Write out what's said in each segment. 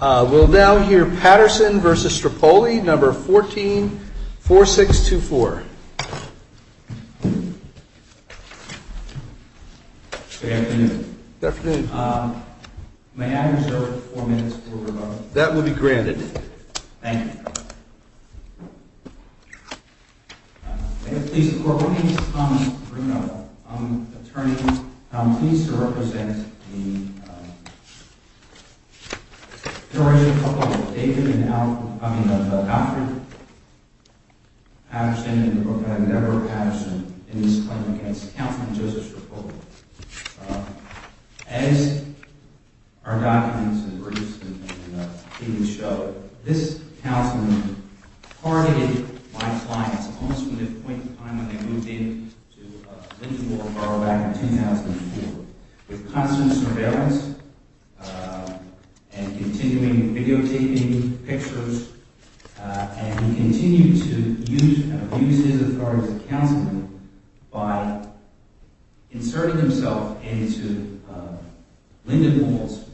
We'll now hear Patterson v. Strippoli, No. 144624. Good afternoon. May I reserve four minutes for rebuttal? That will be granted. Thank you. May it please the Court. My name is Tom Bruno. I'm an attorney. I'm pleased to represent the generation of Alfred Patterson and Deborah Patterson in this claim against Councilman Joseph Strippoli. As our documents and briefs and papers show, this councilman targeted my clients almost from the point in time when they moved in to Lindenboro Borough back in 2004 with constant surveillance and continuing videotaping pictures. And he continued to abuse his authority as a councilman by inserting himself into Lindenpool's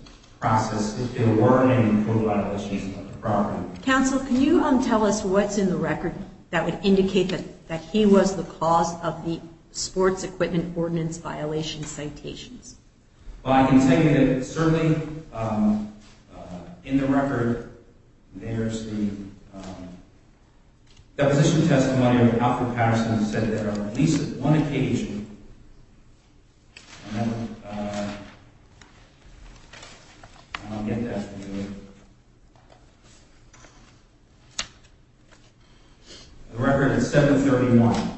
process of ordering code violations of the property. Counsel, can you tell us what's in the record that would indicate that he was the cause of the sports equipment ordinance violation citations? Well, I can tell you that certainly in the record, there's the deposition testimony of Alfred Patterson that said that on at least one occasion, I don't get that. The record is 731.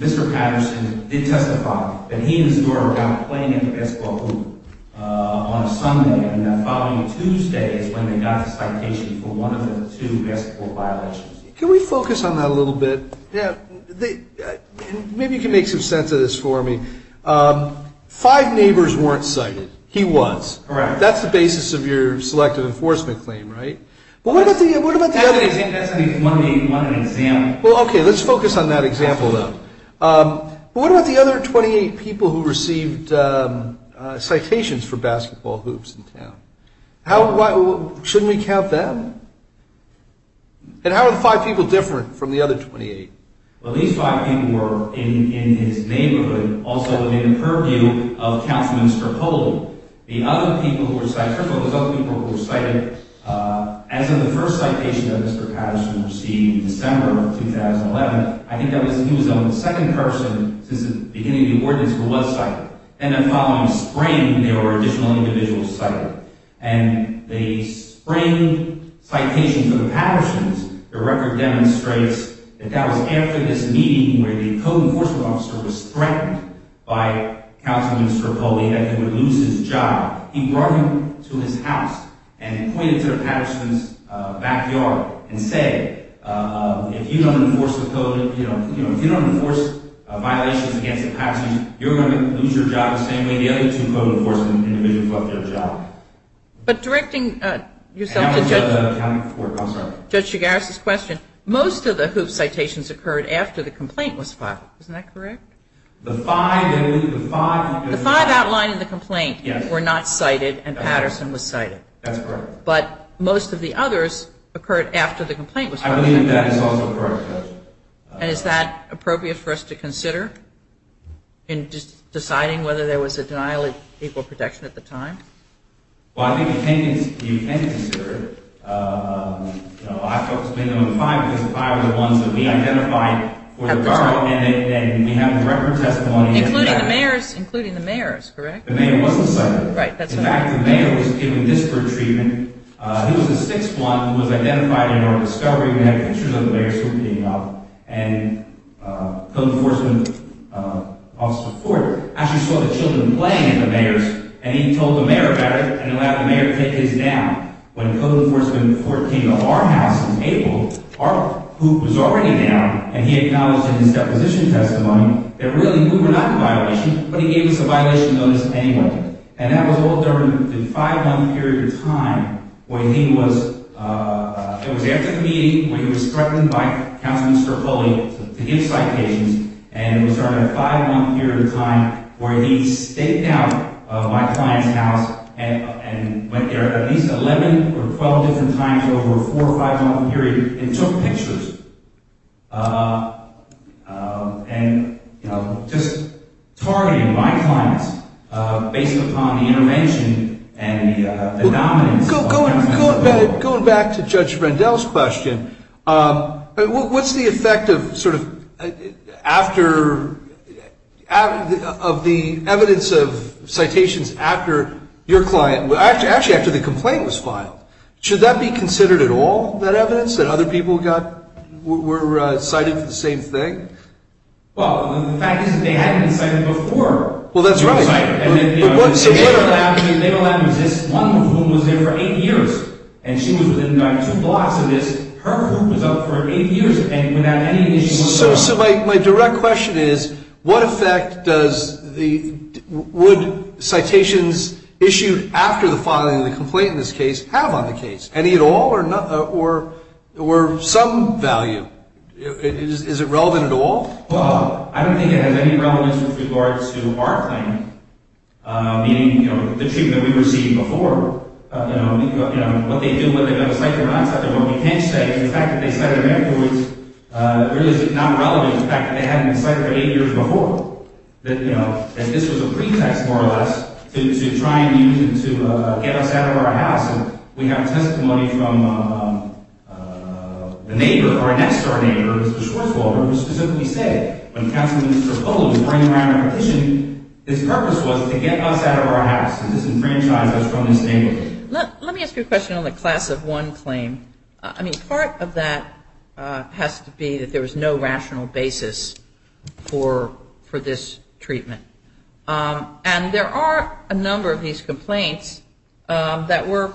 Mr. Patterson did testify that he and his daughter were out playing in the basketball hoop on a Sunday, and the following Tuesday is when they got the citation for one of the two basketball violations. Can we focus on that a little bit? Maybe you can make some sense of this for me. Five neighbors weren't cited. He was. That's the basis of your selective enforcement claim, right? What about the other 28 people who received citations for basketball hoops in town? Shouldn't we count them? And how are the five people different from the other 28? Well, these five people were in his neighborhood, also within the purview of Councilman Skrpol. The other people who were cited, first of all, it was other people who were cited as in the first citation that Mr. Patterson received in December of 2011. I think he was the second person since the beginning of the ordinance who was cited. And the following spring, there were additional individuals cited, and they sprang citations of the Pattersons. The record demonstrates that that was after this meeting where the code enforcement officer was threatened by Councilman Skrpol that he would lose his job. He brought him to his house and pointed to the Pattersons' backyard and said, if you don't enforce the code, you know, if you don't enforce violations against the Pattersons, you're going to lose your job the same way the other two code enforcement individuals lost their job. But directing yourself to Judge Chigares' question, most of the hoop citations occurred after the complaint was filed. Isn't that correct? The five outlined in the complaint were not cited, and Patterson was cited. That's correct. But most of the others occurred after the complaint was filed. I believe that is also correct, Judge. And is that appropriate for us to consider in deciding whether there was a denial of equal protection at the time? Well, I think you can consider it. You know, I focused mainly on the five because the five are the ones that we identified for the time, and we have the record testimony. Including the mayors, including the mayors, correct? The mayor wasn't cited. Right. In fact, the mayor was given disparate treatment. He was the sixth one who was identified in our discovery. We had pictures of the mayors who were being held. And code enforcement officer Ford actually saw the children playing in the mayors, and he told the mayor about it and allowed the mayor to take his down. When code enforcement came to our house in April, our hoop was already down, and he acknowledged in his deposition testimony that really we were not in violation, but he gave us a violation notice anyway. And that was all during the five-month period of time where he was – it was after the meeting where he was threatened by Counselor Mr. Foley to give citations, and it was during that five-month period of time where he staked out my client's house and went there at least 11 or 12 different times over a four- or five-month period and took pictures. And, you know, just targeting my clients based upon the intervention and the dominance. Going back to Judge Rendell's question, what's the effect of sort of after – of the evidence of citations after your client – actually after the complaint was filed, should that be considered at all, that evidence that other people got? Were – were cited for the same thing? Well, the fact is that they hadn't been cited before. Well, that's right. And then, you know – So what – One of whom was there for eight years, and she was within about two blocks of this. Her hoop was up for eight years without any issue whatsoever. So my direct question is, what effect does the – would citations issued after the filing of the complaint in this case have on the case? Any at all or – or some value? Is it relevant at all? Well, I don't think it has any relevance with regards to our claim, meaning, you know, the treatment we received before. You know, what they do, what they got cited or not cited. What we can say is the fact that they cited her was really not relevant to the fact that they hadn't been cited for eight years before. You know, and this was a pretext, more or less, to try and use – to get us out of our house. And we have testimony from the neighbor, our next-door neighbor, Mr. Schwartzwalder, who specifically said, when Counselor Minister Polam was bringing around a petition, his purpose was to get us out of our house, to disenfranchise us from this neighborhood. Let me ask you a question on the class of one claim. I mean, part of that has to be that there was no rational basis for – for this treatment. And there are a number of these complaints that were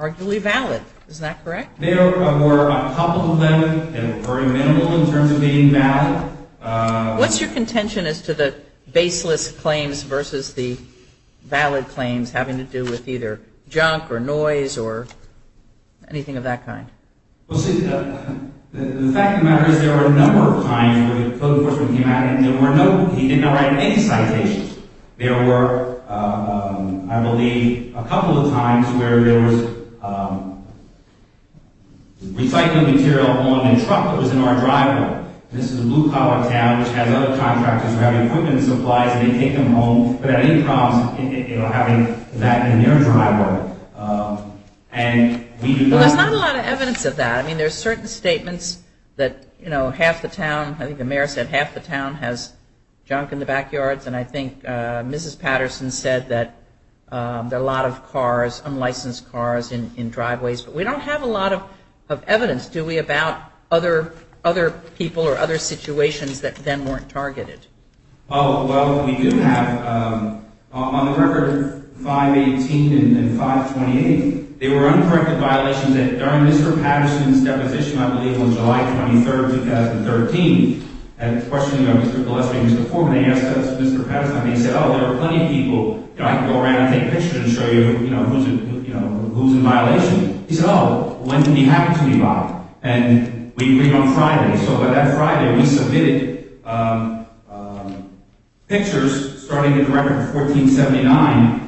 arguably valid. Is that correct? There were a couple of them, and very minimal in terms of being valid. What's your contention as to the baseless claims versus the valid claims having to do with either junk or noise or anything of that kind? Well, see, the fact of the matter is there were a number of times where the code enforcement came out and there were no – he did not write any citations. There were, I believe, a couple of times where there was recycling material on a truck that was in our driveway. This is a blue-collar town, which has other contractors who have equipment and supplies, and they take them home without any problems, you know, having that in their driveway. And we – Well, there's not a lot of evidence of that. I mean, there are certain statements that, you know, half the town – I think the mayor said half the town has junk in the backyards. And I think Mrs. Patterson said that there are a lot of cars, unlicensed cars in driveways. But we don't have a lot of evidence, do we, about other people or other situations that then weren't targeted? Oh, well, we do have – on the record, 5-18 and 5-28, they were uncorrected violations. And during Mr. Patterson's deposition, I believe on July 23, 2013, at the questioning of Mr. Gillespie and Mr. Foreman, they asked Mr. Patterson, they said, oh, there are plenty of people, you know, I can go around and take pictures and show you, you know, who's in violation. He said, oh, when did he happen to be violent? And we believe on Friday. So by that Friday, we submitted pictures starting at the record of 1479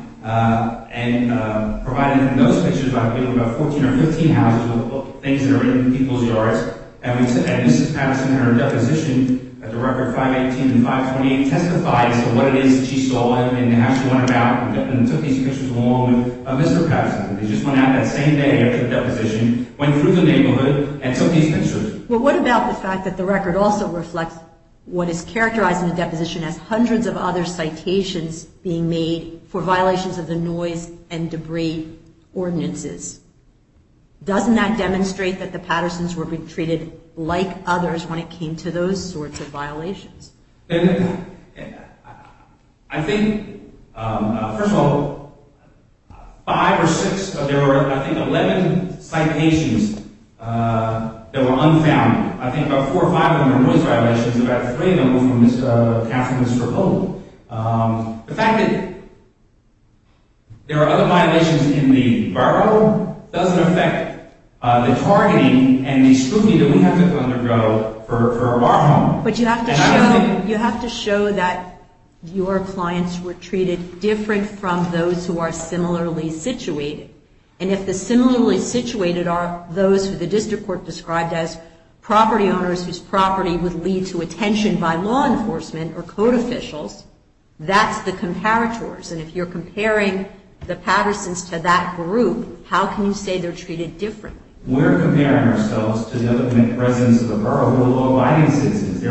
and provided those pictures by the middle of about 14 or 15 houses with things that are in people's yards. And Mrs. Patterson, in her deposition at the record 5-18 and 5-28, testified as to what it is that she saw and asked about and took these pictures along with Mr. Patterson. They just went out that same day after the deposition, went through the neighborhood and took these pictures. Well, what about the fact that the record also reflects what is characterized in the deposition as hundreds of other citations being made for violations of the noise and debris ordinances? Doesn't that demonstrate that the Pattersons were being treated like others when it came to those sorts of violations? I think, first of all, five or six, there were, I think, 11 citations that were unfound. I think about four or five of them were noise violations. About three of them were from Councilman Mr. Holt. The fact that there are other violations in the barroom doesn't affect the targeting and the scrutiny that we have to undergo for a bar home. But you have to show that your clients were treated different from those who are similarly situated. And if the similarly situated are those who the district court described as property owners whose property would lead to attention by law enforcement or code officials, that's the comparators. And if you're comparing the Pattersons to that group, how can you say they're treated differently? We're comparing ourselves to the residents of the borough who are law-abiding citizens.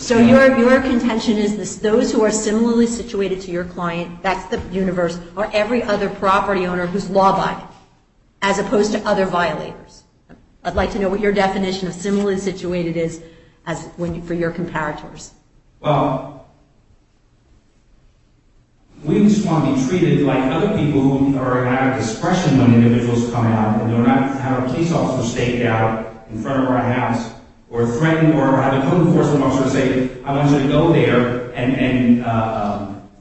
So your contention is those who are similarly situated to your client, that's the universe, are every other property owner who's law-abiding as opposed to other violators? I'd like to know what your definition of similarly situated is for your comparators. Well, we just want to be treated like other people who are out of discretion when individuals come out. We don't want to have a police officer stake out in front of our house or threaten or have a code enforcement officer say, I want you to go there. And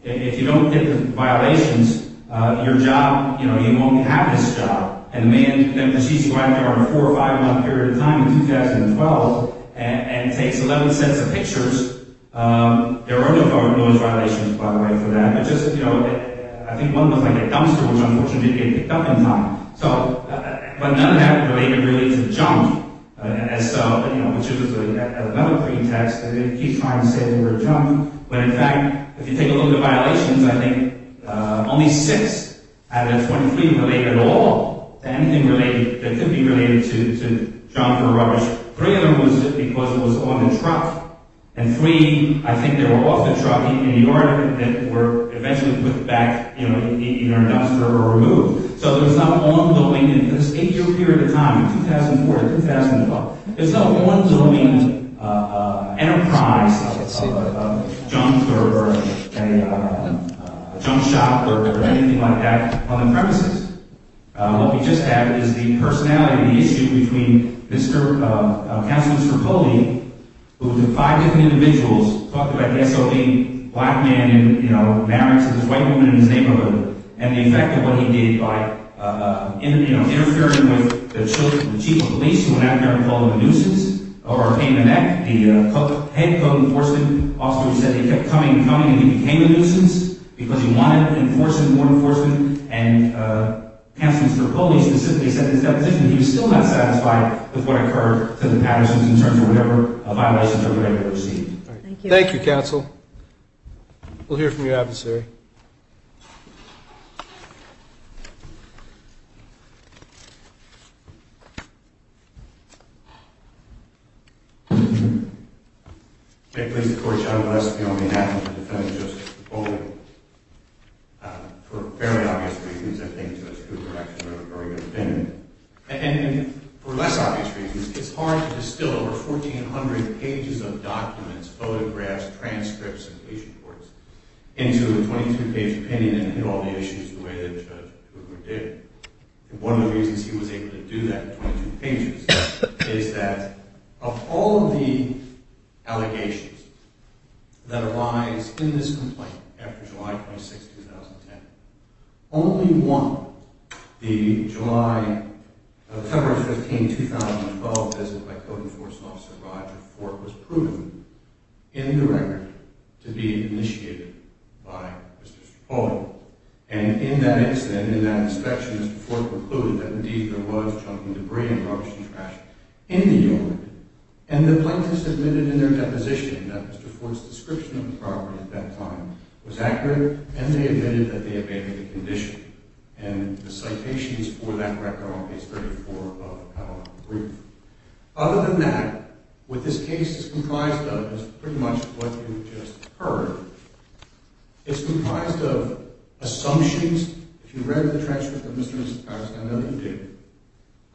if you don't get the violations, your job, you won't have this job. And the man then proceeds to go out there on a four- or five-month period of time in 2012 and takes 11 sets of pictures. There are no violations, by the way, for that. But just, you know, I think one looks like a dumpster, which unfortunately didn't get picked up in time. But none of that related really to the junk, which is another pretext. They keep trying to say they were junk. But in fact, if you take a look at violations, I think only six out of the 23 related at all to anything that could be related to junk or rubbish. Three of them was because it was on the truck. And three, I think they were off the truck in New York that were eventually put back in either a dumpster or removed. So there's not ongoing, in this eight-year period of time, in 2004 and 2012, there's no ongoing enterprise of a junk or a junk shop or anything like that on the premises. What we just had is the personality issue between Counselor Mr. Foley, who was with five different individuals, black man in, you know, marriage with this white woman in his neighborhood. And the effect of what he did by, you know, interfering with the chief of police, who went out there and called him a nuisance, or a pain in the neck, the head code enforcement officer who said he kept coming and coming and he became a nuisance because he wanted enforcement, more enforcement. And Counselor Mr. Foley specifically said in his deposition that he was still not satisfied with what occurred to the Pattersons in terms of whatever violations they were able to receive. Thank you. Thank you, Counsel. We'll hear from your adversary. May it please the Court, I will ask you on behalf of the defendant, Joseph Foley, for fairly obvious reasons, I think Judge Cooper actually had a very good opinion. And for less obvious reasons, it's hard to distill over 1,400 pages of documents, photographs, transcripts, and police reports into a 22-page opinion and hit all the issues the way that Judge Cooper did. And one of the reasons he was able to do that in 22 pages is that of all of the allegations that arise in this complaint after July 26, 2010, only one, the July – September 15, 2012 visit by Code Enforcement Officer Roger Ford was proven in the record to be initiated by Mr. Foley. And in that incident, in that inspection, Mr. Ford concluded that indeed there was junk and debris and rubbish and trash in the yard. And the plaintiffs admitted in their deposition that Mr. Ford's description of the property at that time was accurate, and they admitted that they obeyed the condition. And the citations for that record are on page 34 of our brief. Other than that, what this case is comprised of is pretty much what you just heard. It's comprised of assumptions. If you've read the transcript of Mr. and Mrs. Patterson, I know you do.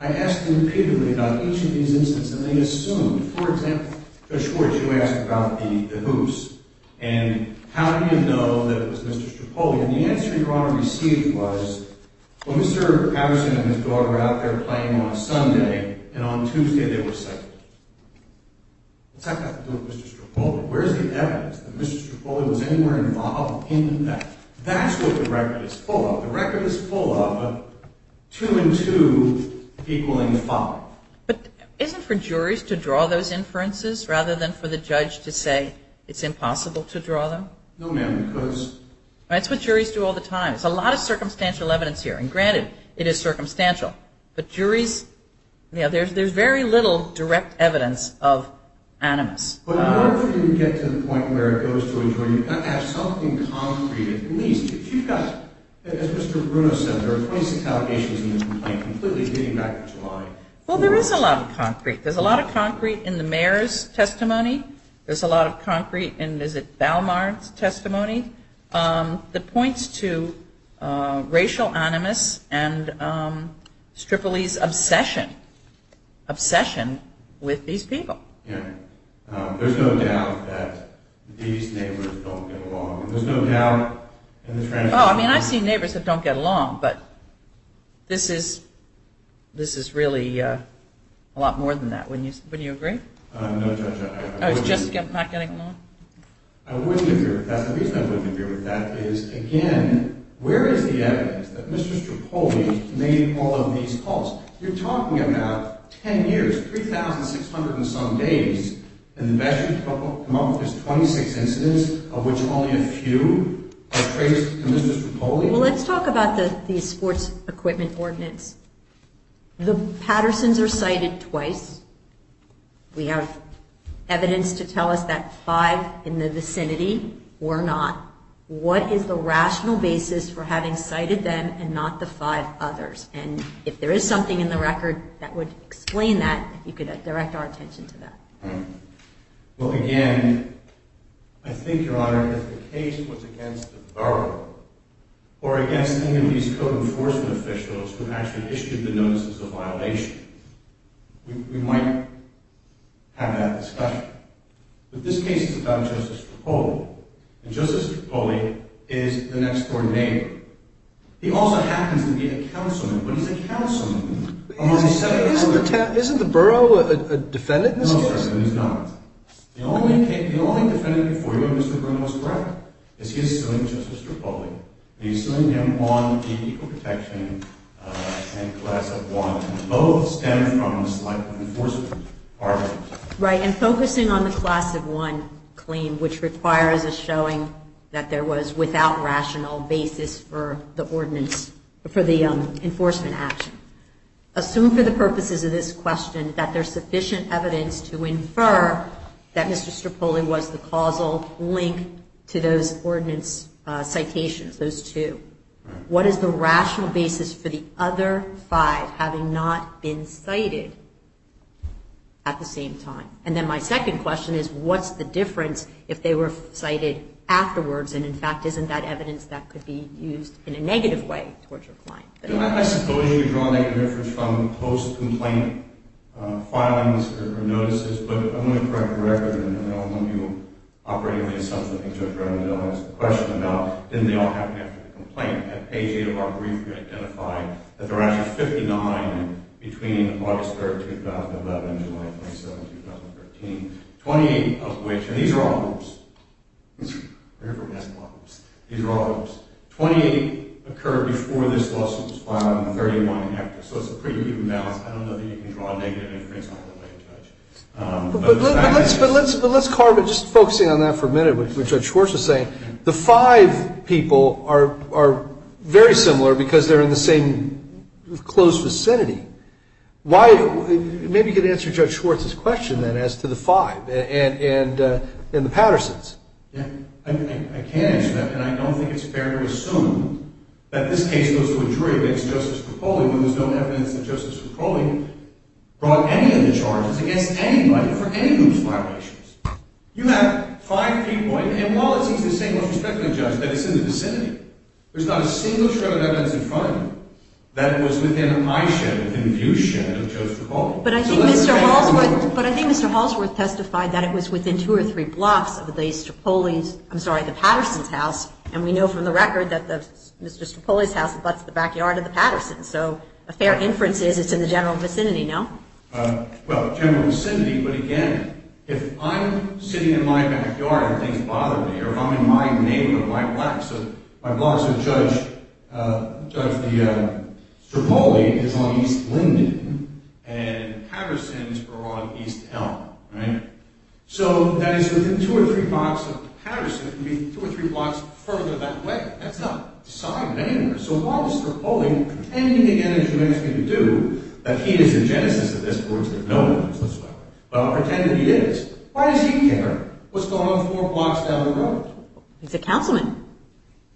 I asked them repeatedly about each of these instances, and they assumed. For example, Judge Schwartz, you asked about the hoops, and how did you know that it was Mr. Strapoli? And the answer Your Honor received was, well, Mr. Patterson and his daughter were out there playing on a Sunday, and on Tuesday they were sighted. What's that got to do with Mr. Strapoli? Where's the evidence that Mr. Strapoli was anywhere involved in that? That's what the record is full of. The record is full of two and two equaling five. But isn't for juries to draw those inferences rather than for the judge to say it's impossible to draw them? No, ma'am, because… That's what juries do all the time. It's a lot of circumstantial evidence here, and granted, it is circumstantial. But juries, you know, there's very little direct evidence of animus. But I wonder if we can get to the point where it goes to a point where you've got to have something concrete at least. You've got, as Mr. Bruno said, there are 26 allegations in this complaint, completely dating back to July. Well, there is a lot of concrete. There's a lot of concrete in the mayor's testimony. There's a lot of concrete in, is it, Balmard's testimony that points to racial animus and Strapoli's obsession, obsession with these people. Yeah. There's no doubt that these neighbors don't get along. There's no doubt in the… Oh, I mean, I've seen neighbors that don't get along, but this is really a lot more than that. Wouldn't you agree? No, Judge, I wouldn't. Oh, it's just not getting along? I wouldn't agree with that. The reason I wouldn't agree with that is, again, where is the evidence that Mr. Strapoli made all of these calls? You're talking about 10 years, 3,600 and some days, and the best you can come up with is 26 incidents, of which only a few are traced to Mr. Strapoli? Well, let's talk about the sports equipment ordinance. The Pattersons are cited twice. We have evidence to tell us that five in the vicinity were not. What is the rational basis for having cited them and not the five others? And if there is something in the record that would explain that, if you could direct our attention to that. Well, again, I think, Your Honor, if the case was against the borough or against any of these code enforcement officials who actually issued the notices of violation, we might have that discussion. But this case is about Justice Strapoli, and Justice Strapoli is the next door neighbor. He also happens to be a councilman, but he's a councilman. Isn't the borough a defendant? No, sir, it is not. The only defendant before you, Mr. Burnham, is correct. He is suing Justice Strapoli. He is suing him on the Equal Protection and Class of 1. Both stem from the slight of enforcement. Right, and focusing on the Class of 1 claim, which requires a showing that there was without rational basis for the ordinance, for the enforcement action. Assume for the purposes of this question that there's sufficient evidence to infer that Mr. Strapoli was the causal link to those ordinance citations, those two. What is the rational basis for the other five having not been cited at the same time? And then my second question is, what's the difference if they were cited afterwards and, in fact, isn't that evidence that could be used in a negative way towards your client? I suppose you're drawing a difference from post-complaint filings or notices, but I'm going to correct the record. I know some of you are operating on the assumption that Judge Ravendell has a question about, didn't they all happen after the complaint? At page 8 of our brief, we identified that there are actually 59 between August 3, 2011, July 27, 2013, 28 of which, and these are all hoops. We're here for gas bottles. These are all hoops. Twenty-eight occurred before this lawsuit was filed and 31 after. So it's a pretty even balance. I don't know that you can draw a negative inference all the way to judge. But let's carve it, just focusing on that for a minute, what Judge Schwartz is saying. The five people are very similar because they're in the same close vicinity. Maybe you could answer Judge Schwartz's question then as to the five and the Pattersons. Yeah, I can answer that, and I don't think it's fair to assume that this case goes to a jury against Justice McCauley when there's no evidence that Justice McCauley brought any of the charges against anybody for any hoops violations. You have five people, and while it's easy to say most respectfully, Judge, that it's in the vicinity, there's not a single shred of evidence in front of you that it was within eyeshadow, within viewshadow of Judge McCauley. But I think Mr. Hallsworth testified that it was within two or three blocks of the Pattersons' house, and we know from the record that Mr. Strapoli's house is the backyard of the Pattersons'. So a fair inference is it's in the general vicinity, no? Well, general vicinity, but again, if I'm sitting in my backyard and things bother me, or if I'm in my neighborhood, so my blocks of Judge Strapoli is on East Linden, and Pattersons are on East Elm, right? So that is within two or three blocks of Pattersons, it could be two or three blocks further that way. That's not decided anywhere, so while Mr. Strapoli, pretending again as you ask me to do, that he is the genesis of this, of course there's no evidence this way, but I'll pretend that he is, why does he care what's going on four blocks down the road? He's a councilman,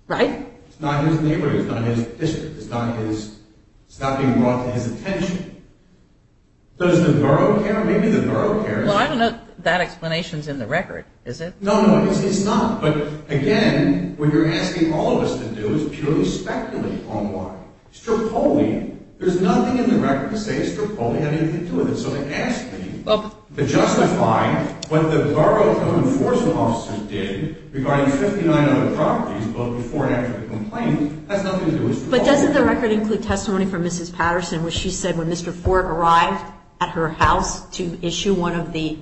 right? It's not his neighborhood, it's not his district, it's not being brought to his attention. Does the borough care? Maybe the borough cares. Well, I don't know if that explanation's in the record, is it? No, no, it's not, but again, what you're asking all of us to do is purely speculate on why. Strapoli, there's nothing in the record to say Strapoli had anything to do with it, so to ask me to justify what the borough of enforcement officers did regarding 59 other properties both before and after the complaint has nothing to do with Strapoli. But doesn't the record include testimony from Mrs. Patterson where she said when Mr. Ford arrived at her house to issue one of the,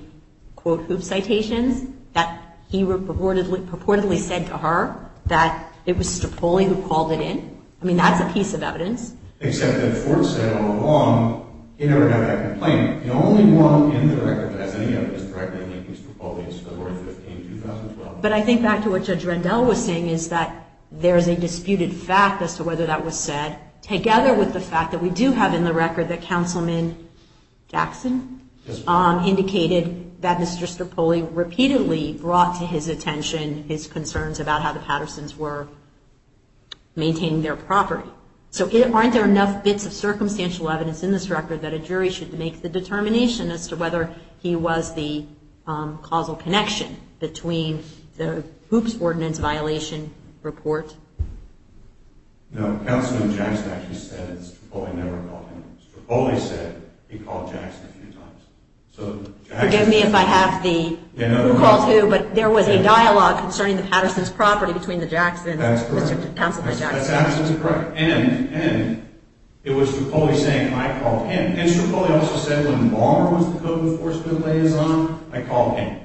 quote, hoop citations, that he purportedly said to her that it was Strapoli who called it in? I mean, that's a piece of evidence. Except that Ford said all along he never had a complaint. The only one in the record that has any evidence directly linking Strapoli is February 15, 2012. But I think back to what Judge Rendell was saying is that there's a disputed fact as to whether that was said, together with the fact that we do have in the record that Councilman Jackson indicated that Mr. Strapoli repeatedly brought to his attention his concerns about how the Pattersons were maintaining their property. So aren't there enough bits of circumstantial evidence in this record that a jury should make the determination as to whether he was the causal connection between the hoops ordinance violation report? No, Councilman Jackson actually said that Strapoli never called him. Strapoli said he called Jackson a few times. Forgive me if I have the who called who, but there was a dialogue concerning the Pattersons' property That's correct. That's absolutely correct. And it was Strapoli saying I called him. And Strapoli also said when Ballmer was the code enforcement liaison, I called him.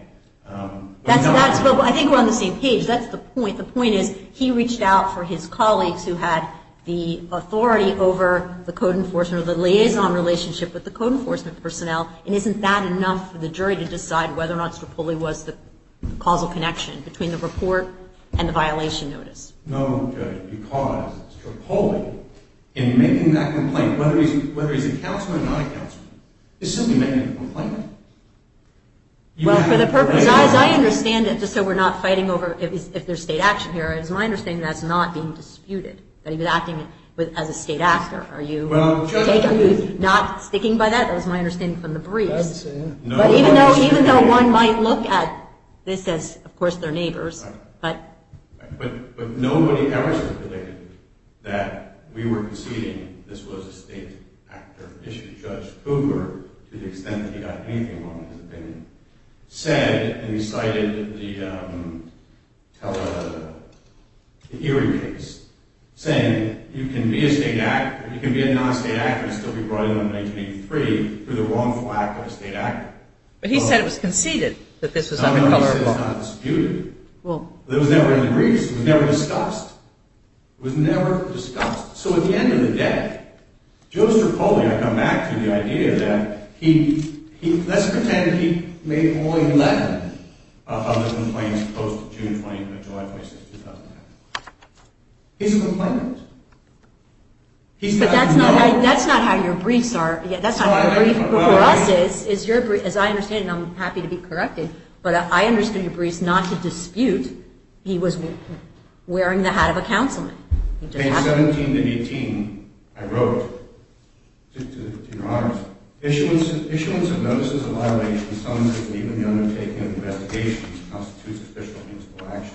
I think we're on the same page. That's the point. The point is he reached out for his colleagues who had the authority over the code enforcement or the liaison relationship with the code enforcement personnel, and isn't that enough for the jury to decide whether or not Strapoli was the causal connection between the report and the violation notice? No, Judge, because Strapoli, in making that complaint, whether he's a councilman or not a councilman, is simply making a complaint. Well, for the purpose, as I understand it, just so we're not fighting over if there's state action here, it's my understanding that's not being disputed, that he was acting as a state actor. Are you not sticking by that? That was my understanding from the briefs. Even though one might look at this as, of course, they're neighbors. But nobody ever stipulated that we were conceding this was a state actor issue. Judge Cooper, to the extent that he got anything wrong in his opinion, said and recited the hearing case, saying you can be a non-state actor and still be brought in on 1983 for the wrongful act of a state actor. But he said it was conceded that this was unrecognizable. No, no, he said it's not disputed. It was never in the briefs. It was never discussed. It was never discussed. So at the end of the day, Joe Strapoli, I come back to the idea that he, let's pretend he made only 11 of the complaints post-June 20, July 20, 2010. He's a complainant. But that's not how your briefs are. That's not how the brief for us is. As I understand it, and I'm happy to be corrected, but I understood your briefs not to dispute he was wearing the hat of a councilman. Page 17 and 18, I wrote to your Honor, issuance of notices of violation, summonses, and even the undertaking of investigations constitutes official means for action.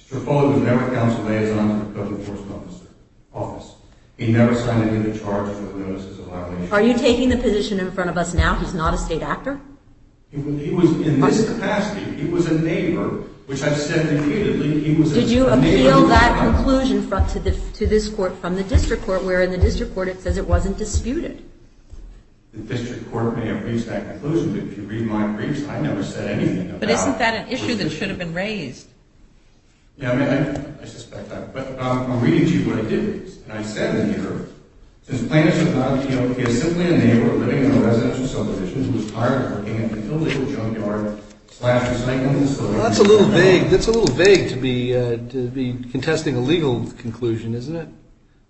Mr. Strapoli was never a council liaison for the public enforcement office. He never signed into charge for notices of violation. Are you taking the position in front of us now he's not a state actor? He was in this capacity. He was a neighbor, which I've said repeatedly. Did you appeal that conclusion to this court from the district court, where in the district court it says it wasn't disputed? The district court may have reached that conclusion, but if you read my briefs, I never said anything about it. But isn't that an issue that should have been raised? Yeah, I mean, I suspect that. But I'll read it to you what it did. And I said in here, since plaintiffs have not appealed, he is simply a neighbor living in a residential subdivision who is tired of working and can fill the old junkyard, slash recycling facilities. That's a little vague. That's a little vague to be contesting a legal conclusion, isn't it?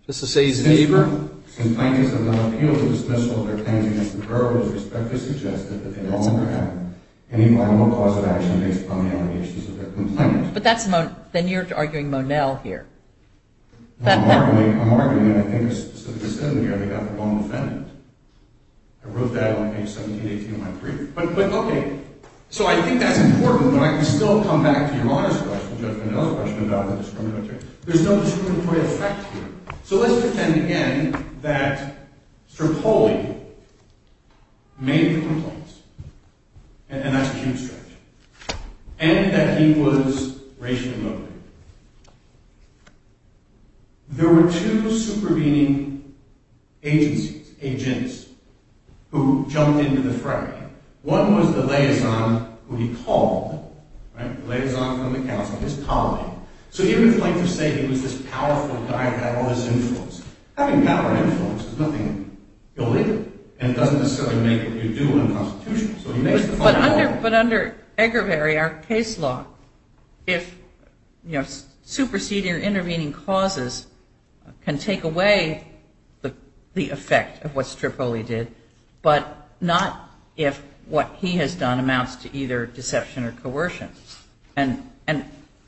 Just to say he's a neighbor? Since plaintiffs have not appealed to dismissal of their claims against the Burroughs, I would respectfully suggest that they no longer have any final cause of action based upon the allegations of their complaint. But then you're arguing Monell here. I'm arguing, and I think a specific assembly member got the wrong defendant. I wrote that on page 17, 18 of my brief. But, okay, so I think that's important, but I can still come back to your honest question, Judge Monell's question about the discriminatory. There's no discriminatory effect here. So let's pretend again that Strapoli made the complaints, and that's a huge stretch, and that he was racially motivated. There were two supervening agencies, agents, who jumped into the fray. One was the liaison who he called, the liaison from the council, his colleague. So even if plaintiffs say he was this powerful guy who had all this influence, having power and influence is nothing illegal, and it doesn't necessarily make what you do unconstitutional. But under Eggervary, our case law, if superseding or intervening causes can take away the effect of what Strapoli did, but not if what he has done amounts to either deception or coercion. And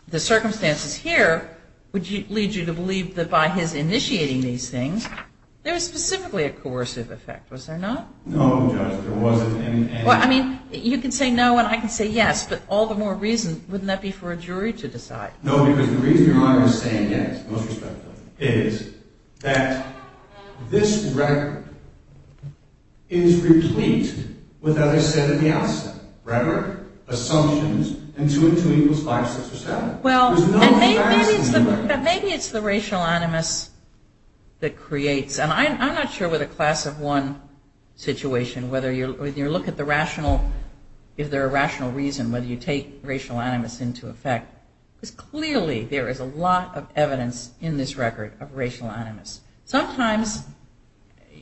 the circumstances here would lead you to believe that by his initiating these things, there was specifically a coercive effect, was there not? No, Judge, there wasn't any. Well, I mean, you can say no and I can say yes, but all the more reason wouldn't that be for a jury to decide? No, because the reason Your Honor is saying yes, most respectfully, is that this record is replete with what I said at the outset. Record, assumptions, and two and two equals five, six, or seven. Well, maybe it's the racial animus that creates, and I'm not sure with a class of one situation, whether you look at the rational, is there a rational reason whether you take racial animus into effect, because clearly there is a lot of evidence in this record of racial animus. Sometimes,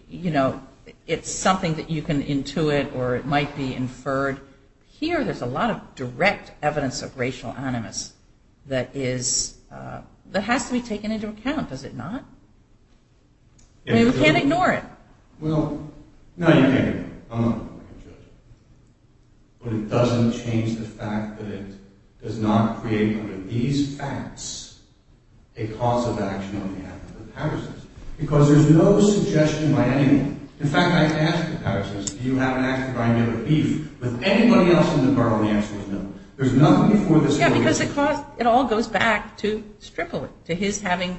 you know, it's something that you can intuit or it might be inferred. Here, there's a lot of direct evidence of racial animus that has to be taken into account, does it not? I mean, we can't ignore it. Well, no, you can't ignore it. I'm not going to make a judgment. But it doesn't change the fact that it does not create under these facts a cause of action on behalf of the powers. Because there's no suggestion by anyone. In fact, I've asked the powers, do you have an action by any other beef? With anybody else in the court, the answer was no. There's nothing before this court. Yeah, because it all goes back to Stripley, to his having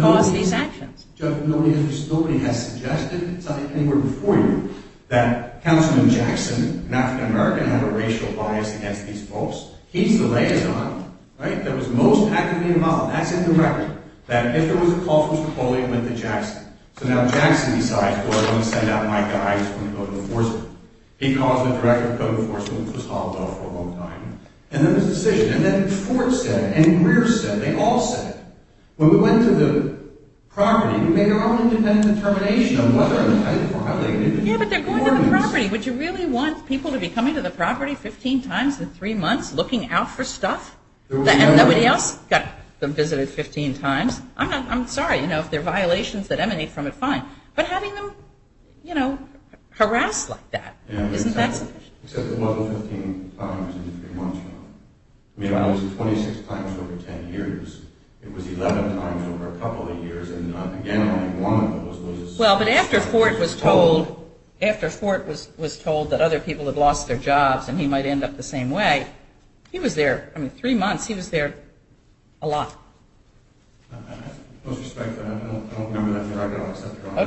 caused these actions. But nobody has suggested, it's not like anywhere before you, that Councilman Jackson, an African-American, had a racial bias against these folks. He's the liaison, right, that was most actively involved. That's in the record. That if there was a call for his report, it went to Jackson. So now, Jackson decides, well, I'm going to send out my guys, I'm going to go to the enforcement. He calls the director of code enforcement, which was hollowed out for a long time. And then there's a decision. And then Fort said it, and Greer said it, they all said it. When we went to the property, we made our own independent determination of whether or not they violated the requirements. Yeah, but they're going to the property. Would you really want people to be coming to the property 15 times in three months? Looking out for stuff? And nobody else got them visited 15 times? I'm sorry, you know, if there are violations that emanate from it, fine. But having them harassed like that, isn't that sufficient? Well, 15 times in three months. I mean, it was 26 times over 10 years. It was 11 times over a couple of years. And again, only one of those was... Well, but after Fort was told that other people had lost their jobs and he might end up the same way, he was there. I mean, three months, he was there a lot. With respect to that, I don't remember that directly. I don't accept your offer.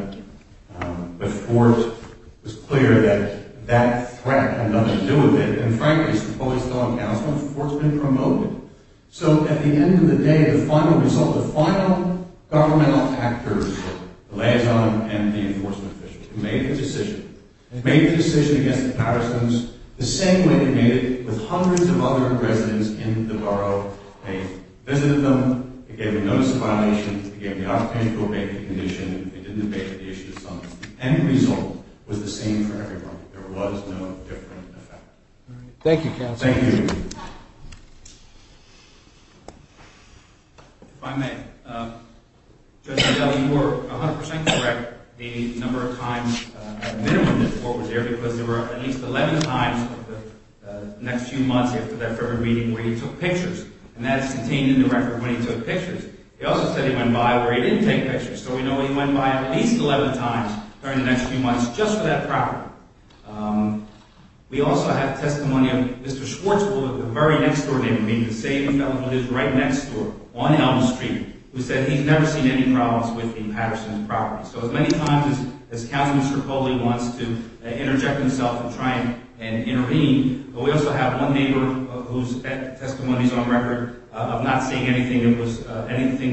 Okay. But Fort was clear that that threat had nothing to do with it. And frankly, as the police law and counsel, Fort's been promoted. So at the end of the day, the final result, the final governmental actors, the liaison and the enforcement officials, who made the decision, made the decision against the parasomes the same way they made it with hundreds of other residents in the borough. They visited them. They gave a notice of violation. They gave the occupational safety condition. They did the basic issues. The end result was the same for everyone. There was no different effect. All right. Thank you, counsel. Thank you. If I may, Judge Adele, you were 100% correct. The number of times at a minimum that Fort was there, because there were at least 11 times over the next few months after that February meeting where he took pictures, and that is contained in the record when he took pictures. He also said he went by where he didn't take pictures. So we know he went by at least 11 times during the next few months just for that property. We also have testimony of Mr. Schwartzfeld, the very next door neighbor, meaning the same fellow who lives right next door on Elm Street, who said he's never seen any problems with the Patterson property. So as many times as counsel Mr. Coley wants to interject himself and try and intervene, but we also have one neighbor whose testimony is on record of not seeing anything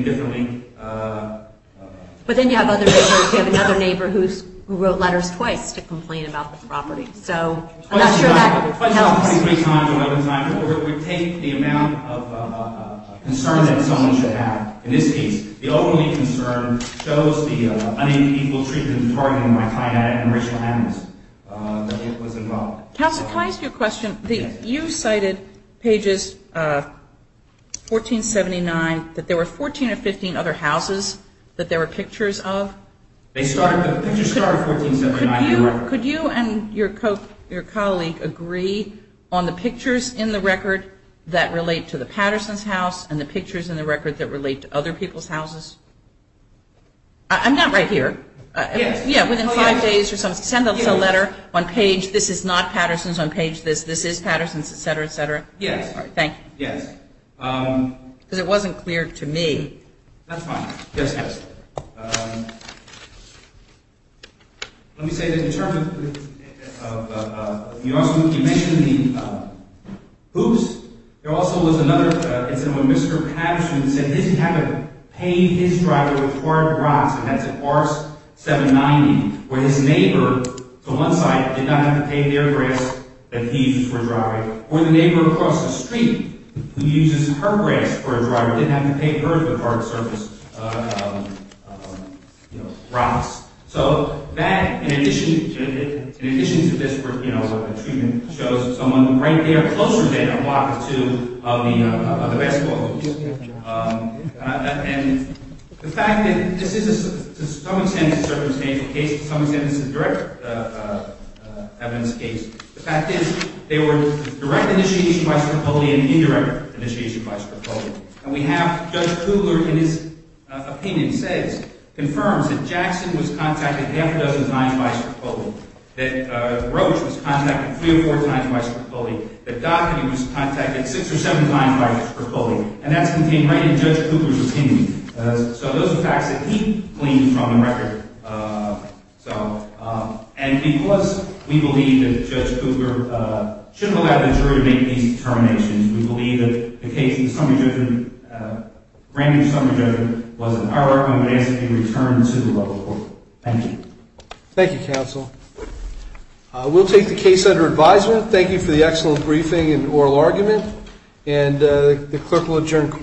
differently. But then you have other neighbors. You have another neighbor who wrote letters twice to complain about the property. So I'm not sure that helps. It would take the amount of concern that someone should have. In this case, the only concern shows the unequal treatment of the property and my client had a racial animus that it was involved. Counsel, can I ask you a question? You cited pages 1479 that there were 14 or 15 other houses that there were pictures of. The pictures started 1479. Could you and your colleague agree on the pictures in the record that relate to the Patterson's house and the pictures in the record that relate to other people's houses? I'm not right here. Yeah, within five days or something, send us a letter on page this is not Patterson's, on page this, this is Patterson's, et cetera, et cetera. Thank you. Because it wasn't clear to me. That's fine. Yes, yes. Let me say that in terms of – you mentioned the hoops. There also was another incident when Mr. Patterson said that he didn't have to pay his driver with hard grass, and that's in Part 790, where his neighbor, to one side, did not have to pay their grass that he used for driving, or the neighbor across the street, who uses her grass for a driver, didn't have to pay her with hard surface rocks. So that, in addition to this treatment, shows someone right there, closer than a block or two of the basketball hoops. And the fact that this is, to some extent, a circumstantial case, to some extent it's a direct evidence case, the fact is, there were direct initiation by Strapoli and indirect initiation by Strapoli. And we have Judge Kugler, in his opinion, says, confirms that Jackson was contacted half a dozen times by Strapoli, that Roach was contacted three or four times by Strapoli, that Doherty was contacted six or seven times by Strapoli, and that's contained right in Judge Kugler's opinion. So those are facts that he gleaned from the record. And plus, we believe that Judge Kugler shouldn't have allowed the jury to make these determinations. We believe that the case in the Grand Jury Summary Judgment was an error, and we ask that it be returned to the local court. Thank you. Thank you, counsel. We'll take the case under advisement. Thank you for the excellent briefing and oral argument. And the clerk will adjourn court.